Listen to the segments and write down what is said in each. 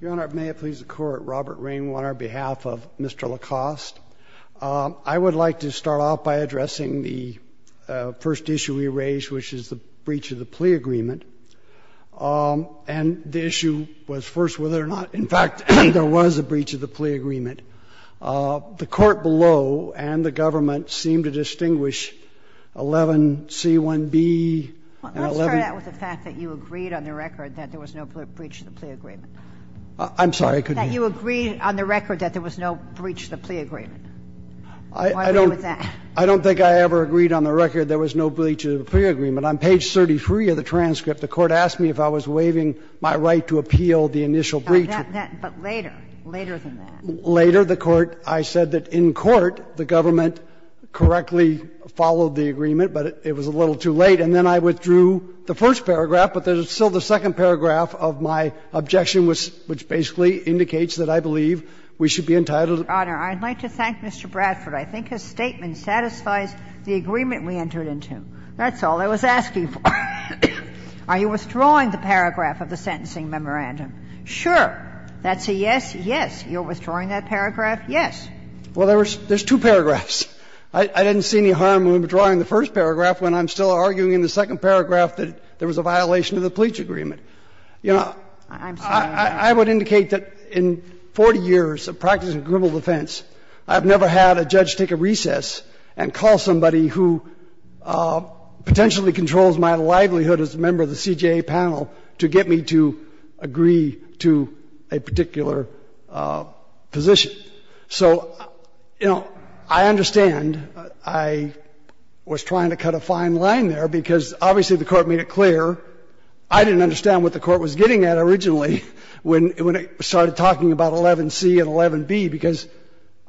Your Honor, may it please the Court, Robert Ring on our behalf of Mr. LaCoste. I would like to start off by addressing the first issue we raised, which is the breach of the plea agreement. And the issue was first whether or not, in fact, there was a breach of the plea agreement. The Court below and the government seem to distinguish 11C1B and 11C2B. And I'm not sure that was a fact that you agreed on the record that there was no breach of the plea agreement. LaCoste I'm sorry, I couldn't hear you. Kagan That you agreed on the record that there was no breach of the plea agreement. Why are you with that? LaCoste I don't think I ever agreed on the record there was no breach of the plea agreement. On page 33 of the transcript, the Court asked me if I was waiving my right to appeal the initial breach. Kagan But later, later than that. LaCoste Later, the Court, I said that in court the government correctly followed the agreement, but it was a little too late. And then I withdrew the first paragraph, but there's still the second paragraph of my objection, which basically indicates that I believe we should be entitled to appeal. Kagan I'd like to thank Mr. Bradford. I think his statement satisfies the agreement we entered into. That's all I was asking for. Are you withdrawing the paragraph of the sentencing memorandum? Sure. That's a yes, yes. You're withdrawing that paragraph, yes. LaCoste Well, there's two paragraphs. I didn't see any harm in withdrawing the first paragraph when I'm still arguing in the second paragraph that there was a violation of the pleach agreement. You know, I would indicate that in 40 years of practicing criminal defense, I've never had a judge take a recess and call somebody who potentially controls my livelihood as a member of the CJA panel to get me to agree to a particular position. So, you know, I understand I was trying to cut a fine line there, because obviously the Court made it clear I didn't understand what the Court was getting at originally when it started talking about 11c and 11b, because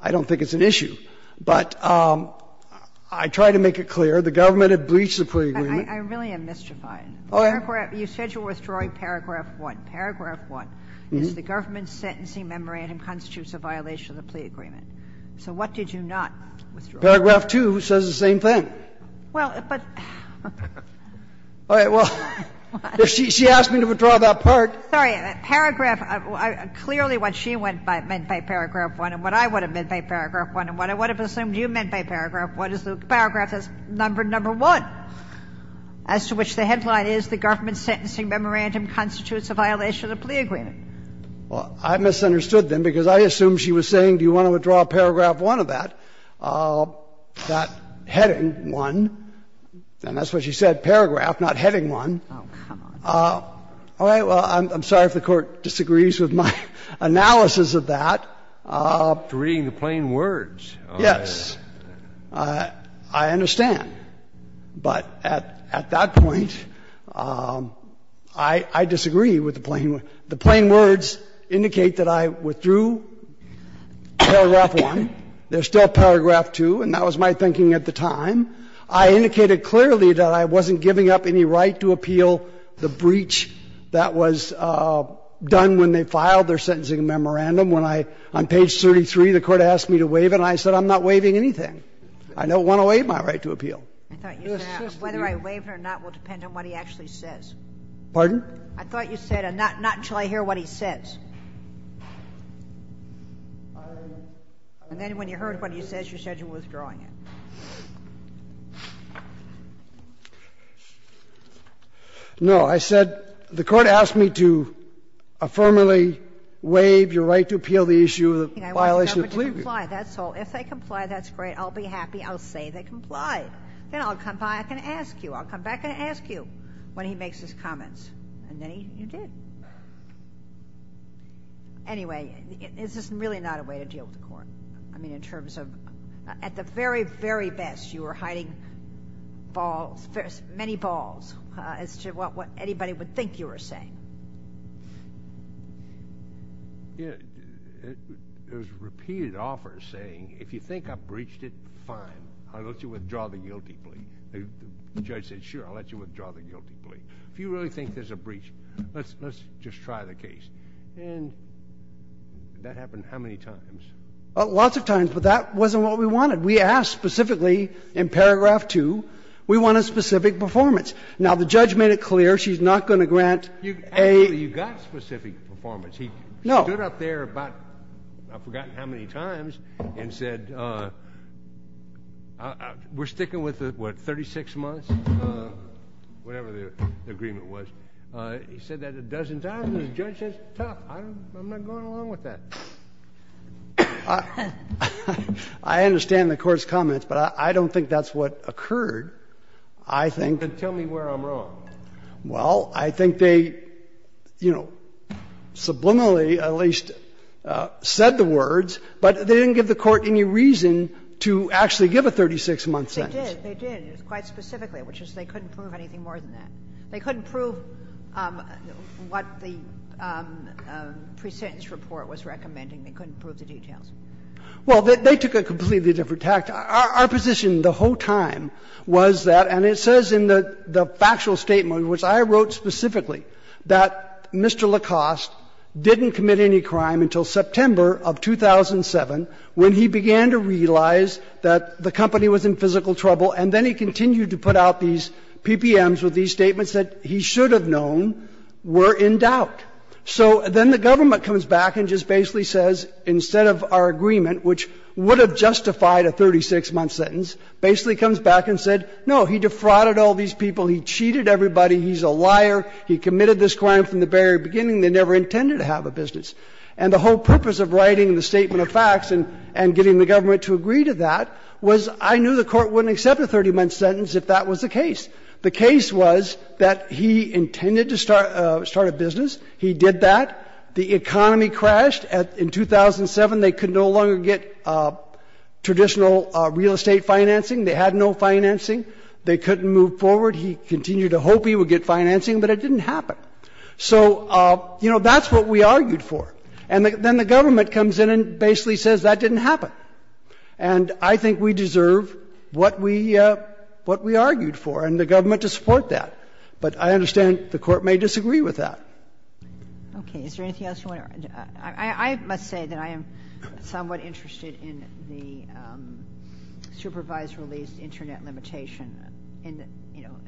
I don't think it's an issue. But I tried to make it clear the government had breached the plea agreement. Kagan I really am mystified. You said you're withdrawing paragraph 1. Paragraph 1 is the government's sentencing memorandum constitutes a violation of the plea agreement. So what did you not withdraw? LaCoste Paragraph 2 says the same thing. Kagan Well, but the Court said it. LaCoste All right. Well, if she asked me to withdraw that part. Kagan Sorry. Paragraph, clearly what she meant by paragraph 1 and what I would have meant by paragraph 1 and what I would have assumed you meant by paragraph 1 is the paragraph says number 1, as to which the headline is the government's sentencing memorandum constitutes a violation of the plea agreement. LaCoste Well, I misunderstood then, because I assumed she was saying do you want to withdraw paragraph 1 of that, that heading 1, and that's what she said, paragraph, not heading 1. Kagan Oh, come on. LaCoste All right. Well, I'm sorry if the Court disagrees with my analysis of that. Kennedy To reading the plain words. LaCoste Yes. I understand. But at that point, I disagree with the plain words. The plain words indicate that I withdrew paragraph 1. There's still paragraph 2, and that was my thinking at the time. I indicated clearly that I wasn't giving up any right to appeal the breach that was done when they filed their sentencing memorandum. When I, on page 33, the Court asked me to waive it, and I said I'm not waiving anything. I don't want to waive my right to appeal. Kagan I thought you said whether I waive it or not will depend on what he actually says. LaCoste Pardon? Kagan I thought you said not until I hear what he says. And then when you heard what he says, you said you were withdrawing it. LaCoste No. I said the Court asked me to affirmably waive your right to appeal the issue of the violation of the plea agreement. Kagan If they comply, that's great. I'll be happy. I'll say they complied. Then I'll come back and ask you. I'll come back and ask you when he makes his comments. And then you did. Anyway, is this really not a way to deal with the Court? I mean, in terms of at the very, very best, you were hiding balls, many balls, as to what anybody would think you were saying. Scalia There's repeated offers saying if you think I've breached it, fine. I'll let you withdraw the guilty plea. The judge said, sure, I'll let you withdraw the guilty plea. If you really think there's a breach, let's just try the case. And that happened how many times? LaCoste Lots of times, but that wasn't what we wanted. We asked specifically in paragraph 2, we want a specific performance. Now, the judge made it clear she's not going to grant a ---- Kennedy You got specific performance. LaCoste No. Kennedy He stood up there about, I've forgotten how many times, and said, we're sticking with the, what, 36 months, whatever the agreement was. He said that a dozen times, and the judge says, tough, I'm not going along with that. LaCoste I understand the Court's comments, but I don't think that's what occurred. I think ---- Kennedy Well, I think they, you know, subliminally at least said the words, but they didn't give the Court any reason to actually give a 36-month sentence. Kagan They did, they did, quite specifically, which is they couldn't prove anything more than that. They couldn't prove what the pre-sentence report was recommending. They couldn't prove the details. LaCoste Well, they took a completely different tact. Our position the whole time was that, and it says in the factual statement, which I wrote specifically, that Mr. LaCoste didn't commit any crime until September of 2007, when he began to realize that the company was in physical trouble, and then he continued to put out these PPMs with these statements that he should have known were in doubt. So then the government comes back and just basically says, instead of our agreement, which would have justified a 36-month sentence, basically comes back and said, no, he defrauded all these people, he cheated everybody, he's a liar, he committed this crime from the very beginning, they never intended to have a business. And the whole purpose of writing the statement of facts and getting the government to agree to that was I knew the Court wouldn't accept a 30-month sentence if that was the case. The case was that he intended to start a business, he did that, the economy crashed in 2007, they could no longer get traditional real estate financing, they had no financing, they couldn't move forward. He continued to hope he would get financing, but it didn't happen. So, you know, that's what we argued for. And then the government comes in and basically says that didn't happen. And I think we deserve what we argued for and the government to support that. But I understand the Court may disagree with that. Okay. Is there anything else you want to add? I must say that I am somewhat interested in the supervised release internet limitation in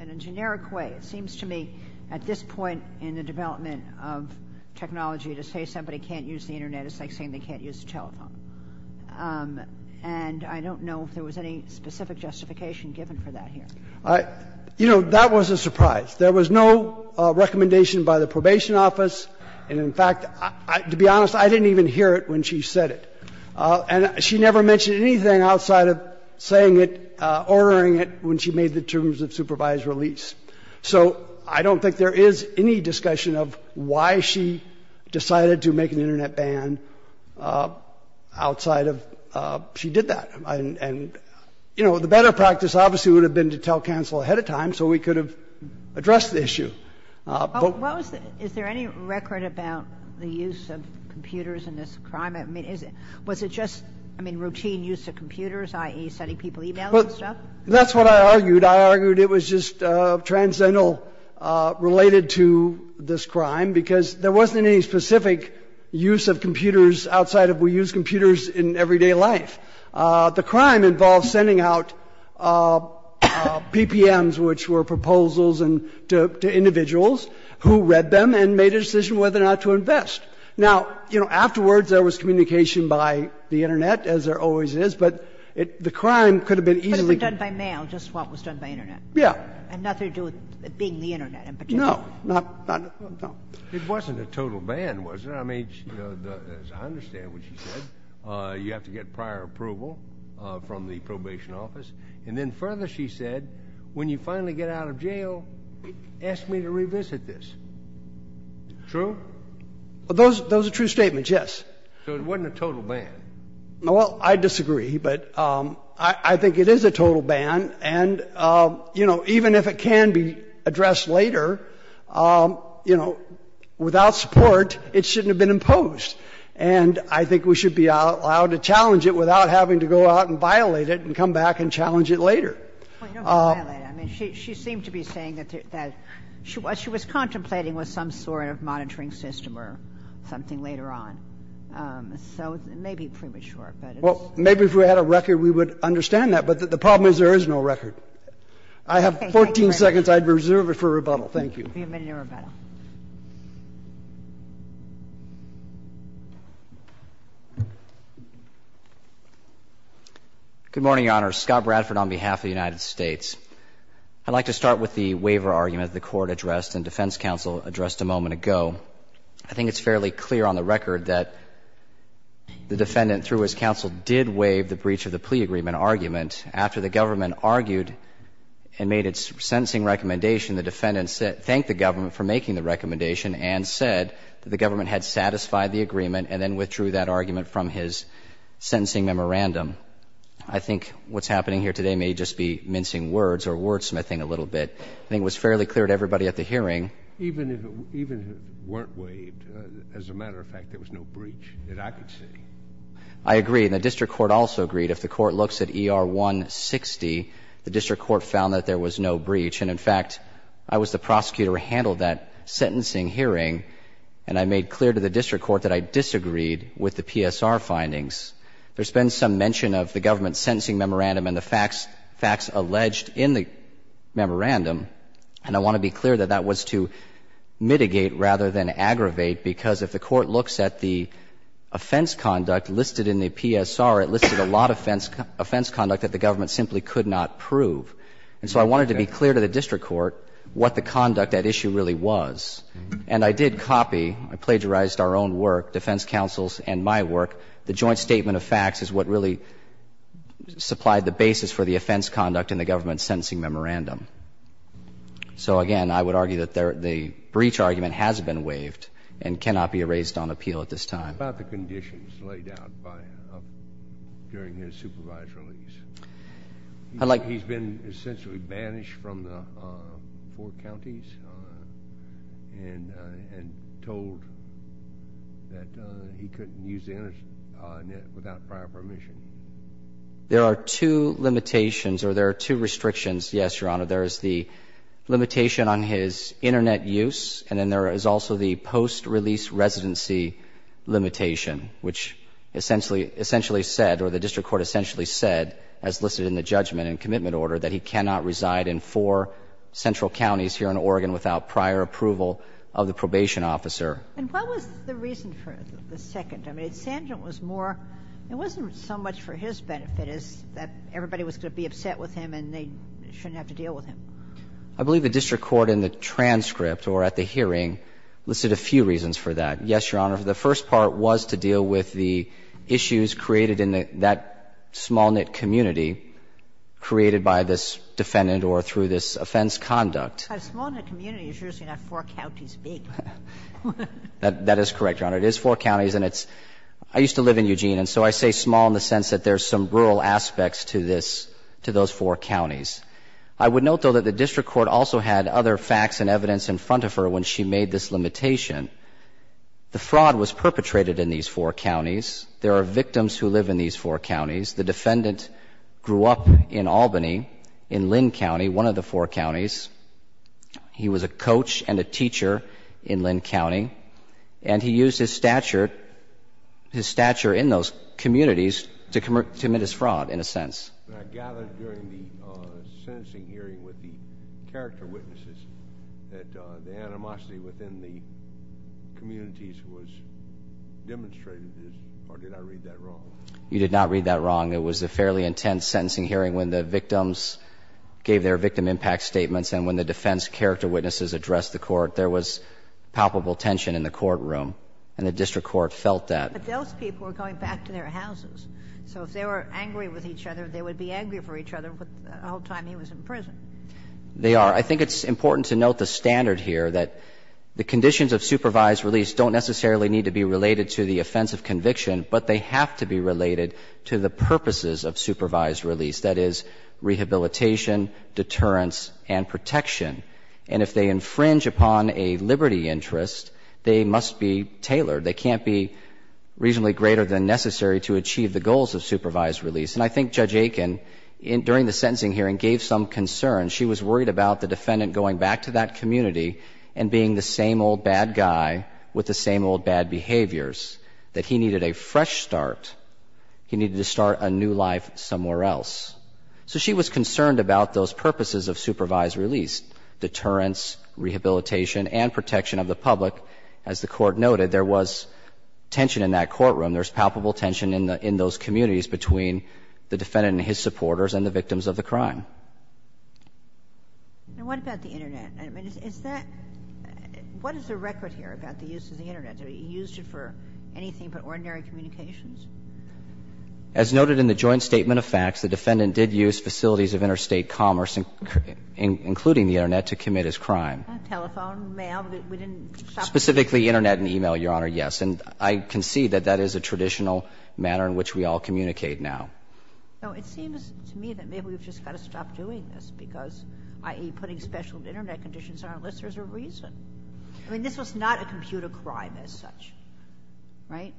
a generic way. It seems to me at this point in the development of technology to say somebody can't use the internet is like saying they can't use the telephone. And I don't know if there was any specific justification given for that here. You know, that was a surprise. There was no recommendation by the probation office. And in fact, to be honest, I didn't even hear it when she said it. And she never mentioned anything outside of saying it, ordering it when she made the terms of supervised release. So I don't think there is any discussion of why she decided to make an internet ban outside of she did that. And, you know, the better practice obviously would have been to tell counsel ahead of time so we could have addressed the issue. Is there any record about the use of computers in this crime? I mean, was it just, I mean, routine use of computers, i.e. sending people e-mails and stuff? That's what I argued. I argued it was just transcendental related to this crime because there wasn't any specific use of computers outside of we use computers in everyday life. The crime involved sending out PPMs, which were proposals to individuals who read them and made a decision whether or not to invest. Now, you know, afterwards there was communication by the internet, as there always is, but the crime could have been easily done by mail, just what was done by internet. Yeah. And nothing to do with it being the internet in particular. No, not at all. It wasn't a total ban, was it? I mean, as I understand what she said, you have to get prior approval from the probation office, and then further, she said, when you finally get out of jail, ask me to revisit this. True? Those are true statements, yes. So it wasn't a total ban? Well, I disagree, but I think it is a total ban, and, you know, even if it can be addressed later, you know, without support, it shouldn't have been imposed, and I think we should be allowed to challenge it without having to go out and violate it and come back and challenge it later. Well, you don't have to violate it. I mean, she seemed to be saying that she was contemplating with some sort of monitoring system or something later on. So it may be premature, but it's — Well, maybe if we had a record, we would understand that, but the problem is there is no record. I have 14 seconds. Okay. I'll be a minute in rebuttal. Thank you. You'll be a minute in rebuttal. Good morning, Your Honor. Scott Bradford on behalf of the United States. I'd like to start with the waiver argument that the Court addressed and defense counsel addressed a moment ago. I think it's fairly clear on the record that the defendant, through his counsel, did waive the breach of the plea agreement argument after the government argued and made its sentencing recommendation. The defendant thanked the government for making the recommendation and said that the government had satisfied the agreement and then withdrew that argument from his sentencing memorandum. I think what's happening here today may just be mincing words or wordsmithing a little bit. I think it was fairly clear to everybody at the hearing. Even if it weren't waived, as a matter of fact, there was no breach that I could see. I agree. And the district court also agreed. If the court looks at ER 160, the district court found that there was no breach. And, in fact, I was the prosecutor who handled that sentencing hearing, and I made clear to the district court that I disagreed with the PSR findings. There's been some mention of the government's sentencing memorandum and the facts alleged in the memorandum, and I want to be clear that that was to mitigate rather than aggravate, because if the court looks at the offense conduct listed in the PSR it listed a lot of offense conduct that the government simply could not prove. And so I wanted to be clear to the district court what the conduct at issue really was. And I did copy, I plagiarized our own work, defense counsel's and my work, the joint statement of facts is what really supplied the basis for the offense conduct in the government's sentencing memorandum. So, again, I would argue that the breach argument has been waived and cannot be erased on appeal at this time. What about the conditions laid out by, during his supervised release? He's been essentially banished from the four counties and told that he couldn't use the internet without prior permission. There are two limitations, or there are two restrictions, yes, Your Honor. There is the limitation on his internet use, and then there is also the post-release residency limitation, which essentially said, or the district court essentially said, as listed in the judgment and commitment order, that he cannot reside in four central counties here in Oregon without prior approval of the probation officer. And what was the reason for the second? I mean, Sandringham was more, it wasn't so much for his benefit as that everybody was going to be upset with him and they shouldn't have to deal with him. I believe the district court in the transcript or at the hearing listed a few reasons for that. Yes, Your Honor, the first part was to deal with the issues created in that small-knit community created by this defendant or through this offense conduct. Sotomayor, Jr.: A small-knit community is usually not four counties big. That is correct, Your Honor. It is four counties, and it's — I used to live in Eugene, and so I say small in the sense that there's some rural aspects to this, to those four counties. I would note, though, that the district court also had other facts and evidence in front of her when she made this limitation. The fraud was perpetrated in these four counties. There are victims who live in these four counties. The defendant grew up in Albany, in Lynn County, one of the four counties. He was a coach and a teacher in Lynn County, and he used his stature, his stature in those communities to commit his fraud, in a sense. I gathered during the sentencing hearing with the character witnesses that the animosity within the communities was demonstrated, or did I read that wrong? You did not read that wrong. It was a fairly intense sentencing hearing when the victims gave their victim impact statements and when the defense character witnesses addressed the court. There was palpable tension in the courtroom, and the district court felt that. But those people were going back to their houses, so if they were angry with each other, they would be angry for each other the whole time he was in prison. They are. I think it's important to note the standard here, that the conditions of supervised release don't necessarily need to be related to the offense of conviction, but they have to be related to the purposes of supervised release, that is, rehabilitation, deterrence, and protection. And if they infringe upon a liberty interest, they must be tailored. They can't be reasonably greater than necessary to achieve the goals of supervised release. And I think Judge Aiken, during the sentencing hearing, gave some concern. She was worried about the defendant going back to that community and being the same old bad guy with the same old bad behaviors, that he needed a fresh start. He needed to start a new life somewhere else. So she was concerned about those purposes of supervised release, deterrence, rehabilitation, and protection of the public. As the Court noted, there was tension in that courtroom. There's palpable tension in those communities between the defendant and his supporters and the victims of the crime. And what about the Internet? I mean, is that – what is the record here about the use of the Internet? Do we use it for anything but ordinary communications? As noted in the joint statement of facts, the defendant did use facilities of interstate commerce, including the Internet, to commit his crime. Telephone, mail? We didn't stop him. Specifically, Internet and e-mail, Your Honor, yes. And I concede that that is a traditional manner in which we all communicate now. No, it seems to me that maybe we've just got to stop doing this, because, i.e., putting special Internet conditions on our list, there's a reason. I mean, this was not a computer crime as such, right?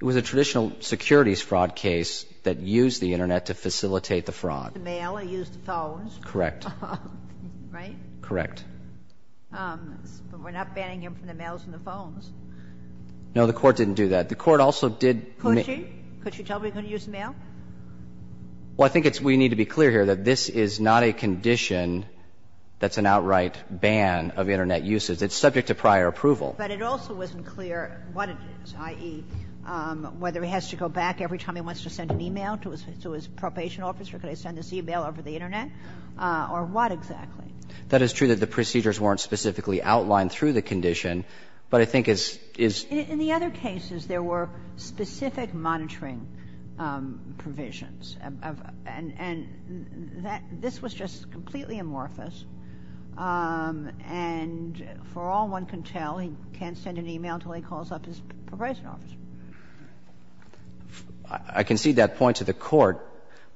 It was a traditional securities fraud case that used the Internet to facilitate the fraud. The mail, he used the phones. Correct. Right? Correct. But we're not banning him from the mails and the phones. No, the Court didn't do that. The Court also did make the use of the Internet. Could she? Could she tell him he couldn't use the mail? Well, I think it's we need to be clear here that this is not a condition that's an outright ban of Internet usage. It's subject to prior approval. But it also wasn't clear what it is, i.e., whether he has to go back every time he wants to send an e-mail to his probation officer, could I send this e-mail over the Internet, or what exactly? That is true that the procedures weren't specifically outlined through the condition, but I think it's, it's. In the other cases, there were specific monitoring provisions, and that, this was just completely amorphous, and for all one can tell, he can't send an e-mail until he calls up his probation officer. I concede that point to the Court.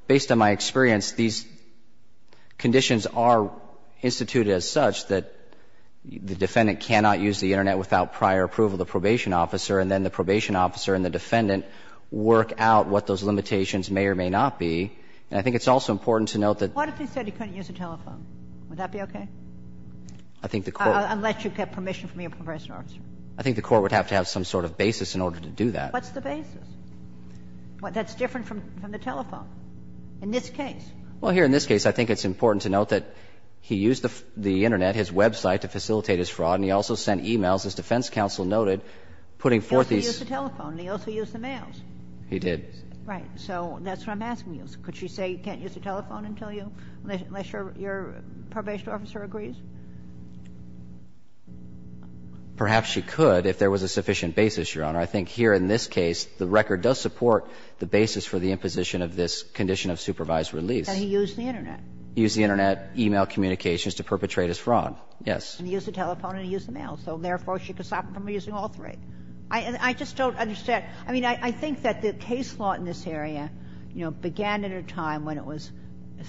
Based on my experience, these conditions are instituted as such that the defendant cannot use the Internet without prior approval of the probation officer, and then the probation officer and the defendant work out what those limitations may or may not be. And I think it's also important to note that. What if he said he couldn't use a telephone? Would that be okay? I think the Court. Unless you get permission from your probation officer. I think the Court would have to have some sort of basis in order to do that. What's the basis? That's different from the telephone in this case. Well, here in this case, I think it's important to note that he used the Internet, his website, to facilitate his fraud, and he also sent e-mails, as defense counsel noted, putting forth these. He also used the telephone, and he also used the mails. He did. Right. So that's what I'm asking you. Could she say he can't use the telephone until you unless your probation officer agrees? Perhaps she could if there was a sufficient basis, Your Honor. I think here in this case, the record does support the basis for the imposition of this condition of supervised release. And he used the Internet. He used the Internet, e-mail communications to perpetrate his fraud. Yes. He used the telephone and he used the mail. So therefore, she could stop him from using all three. I just don't understand. I mean, I think that the case law in this area, you know, began at a time when it was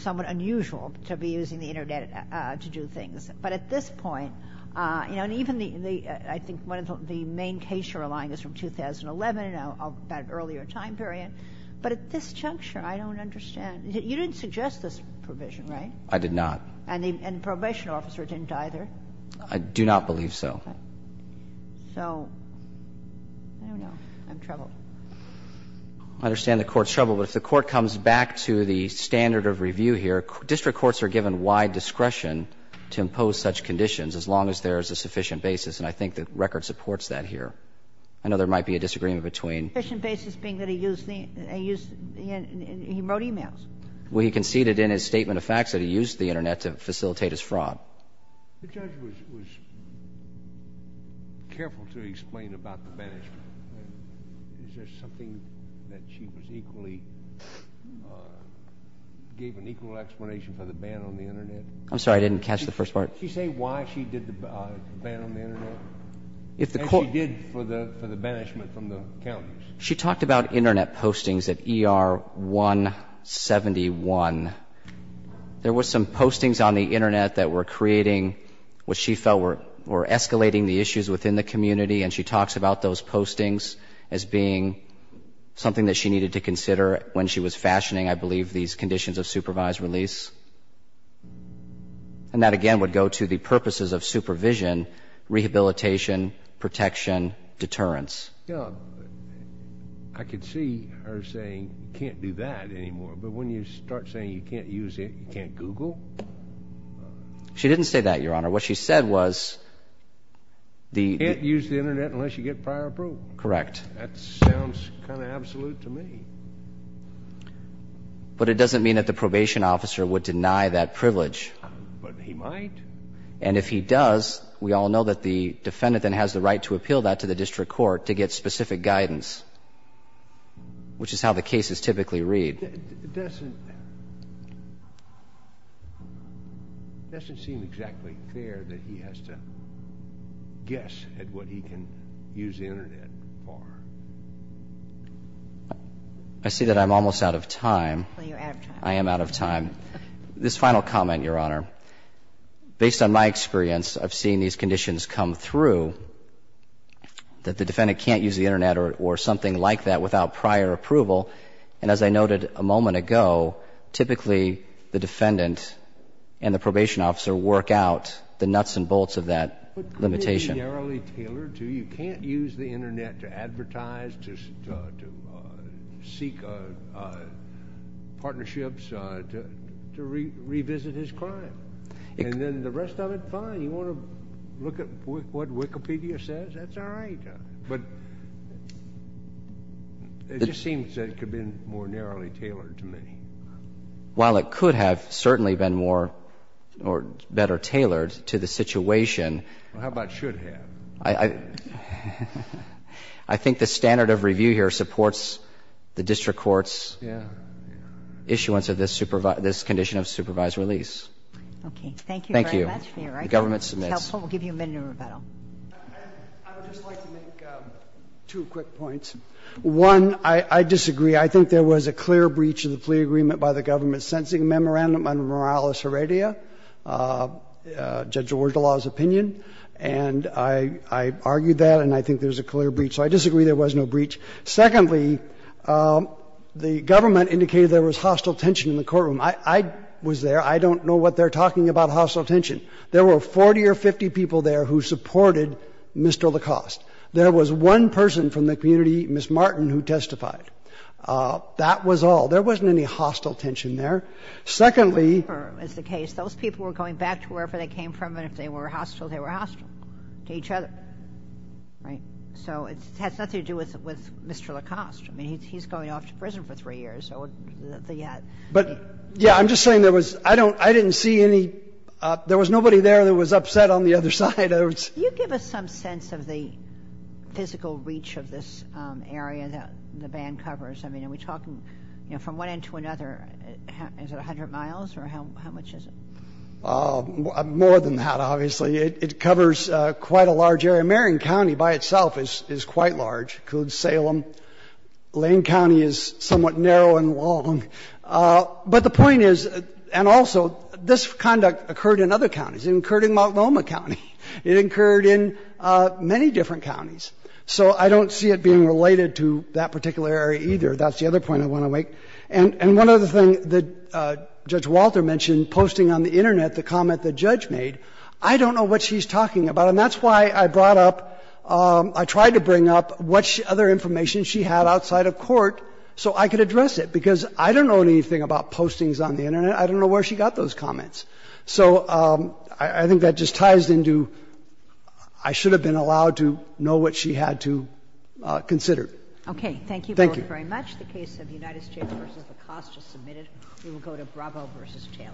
somewhat unusual to be using the Internet to do things. But at this point, you know, and even the – I think one of the main cases you're relying on is from 2011, about an earlier time period. But at this juncture, I don't understand. You didn't suggest this provision, right? I did not. And the probation officer didn't either. I do not believe so. So, I don't know. I'm troubled. I understand the Court's troubled. But if the Court comes back to the standard of review here, district courts are given wide discretion to impose such conditions as long as there is a sufficient basis. And I think the record supports that here. A sufficient basis being that he used the Internet and he wrote e-mails. Well, he conceded in his statement of facts that he used the Internet to facilitate his fraud. The judge was careful to explain about the banishment. Is there something that she was equally – gave an equal explanation for the ban on the Internet? I'm sorry, I didn't catch the first part. Did she say why she did the ban on the Internet, as she did for the banishment from the counties? She talked about Internet postings at ER 171. There were some postings on the Internet that were creating what she felt were escalating the issues within the community. And she talks about those postings as being something that she needed to consider when she was fashioning, I believe, these conditions of supervised release. And that, again, would go to the purposes of supervision, rehabilitation, protection, deterrence. I could see her saying, you can't do that anymore. But when you start saying you can't use it, you can't Google? She didn't say that, Your Honor. What she said was the – You can't use the Internet unless you get prior approval. Correct. That sounds kind of absolute to me. But it doesn't mean that the probation officer would deny that privilege. But he might. And if he does, we all know that the defendant then has the right to appeal that to the district court to get specific guidance, which is how the cases typically read. It doesn't seem exactly clear that he has to guess at what he can use the Internet for. I see that I'm almost out of time. Well, you're out of time. I am out of time. This final comment, Your Honor, based on my experience of seeing these conditions come through, that the defendant can't use the Internet or something like that without prior approval. And as I noted a moment ago, typically the defendant and the probation officer work out the nuts and bolts of that limitation. But it's narrowly tailored to you. You can't use the Internet to advertise, to seek partnerships, to revisit his crime. And then the rest of it, fine. You want to look at what Wikipedia says, that's all right. But it just seems that it could have been more narrowly tailored to me. While it could have certainly been more or better tailored to the situation. Well, how about should have? I think the standard of review here supports the district court's issuance of this condition of supervised release. Okay. Thank you very much, Your Honor. The government submits. I would just like to make two quick points. One, I disagree. I think there was a clear breach of the plea agreement by the government sentencing memorandum under Morales Heredia, Judge Orgelau's opinion. And I argued that, and I think there's a clear breach. So I disagree there was no breach. Secondly, the government indicated there was hostile tension in the courtroom. I was there. I don't know what they're talking about, hostile tension. There were 40 or 50 people there who supported Mr. LaCoste. There was one person from the community, Ms. Martin, who testified. That was all. There wasn't any hostile tension there. Secondly. Those people were going back to wherever they came from, and if they were hostile, they were hostile to each other. Right? So it has nothing to do with Mr. LaCoste. I mean, he's going off to prison for three years. So the, yeah. But, yeah, I'm just saying there was, I don't, I didn't see any, there was nobody there that was upset on the other side. Do you give us some sense of the physical reach of this area that the ban covers? I mean, are we talking, you know, from one end to another, is it 100 miles or how much is it? More than that, obviously. It covers quite a large area. Marion County by itself is quite large, includes Salem. Lane County is somewhat narrow and long. But the point is, and also, this conduct occurred in other counties. It occurred in Multnomah County. It occurred in many different counties. So I don't see it being related to that particular area either. That's the other point I want to make. And one other thing that Judge Walter mentioned, posting on the Internet the comment the judge made, I don't know what she's talking about. And that's why I brought up, I tried to bring up what other information she had outside of court so I could address it. Because I don't know anything about postings on the Internet. I don't know where she got those comments. So I think that just ties into, I should have been allowed to know what she had to consider. Okay. Thank you both very much. The case of United States v. Acosta submitted. We will go to Bravo v. Taylor.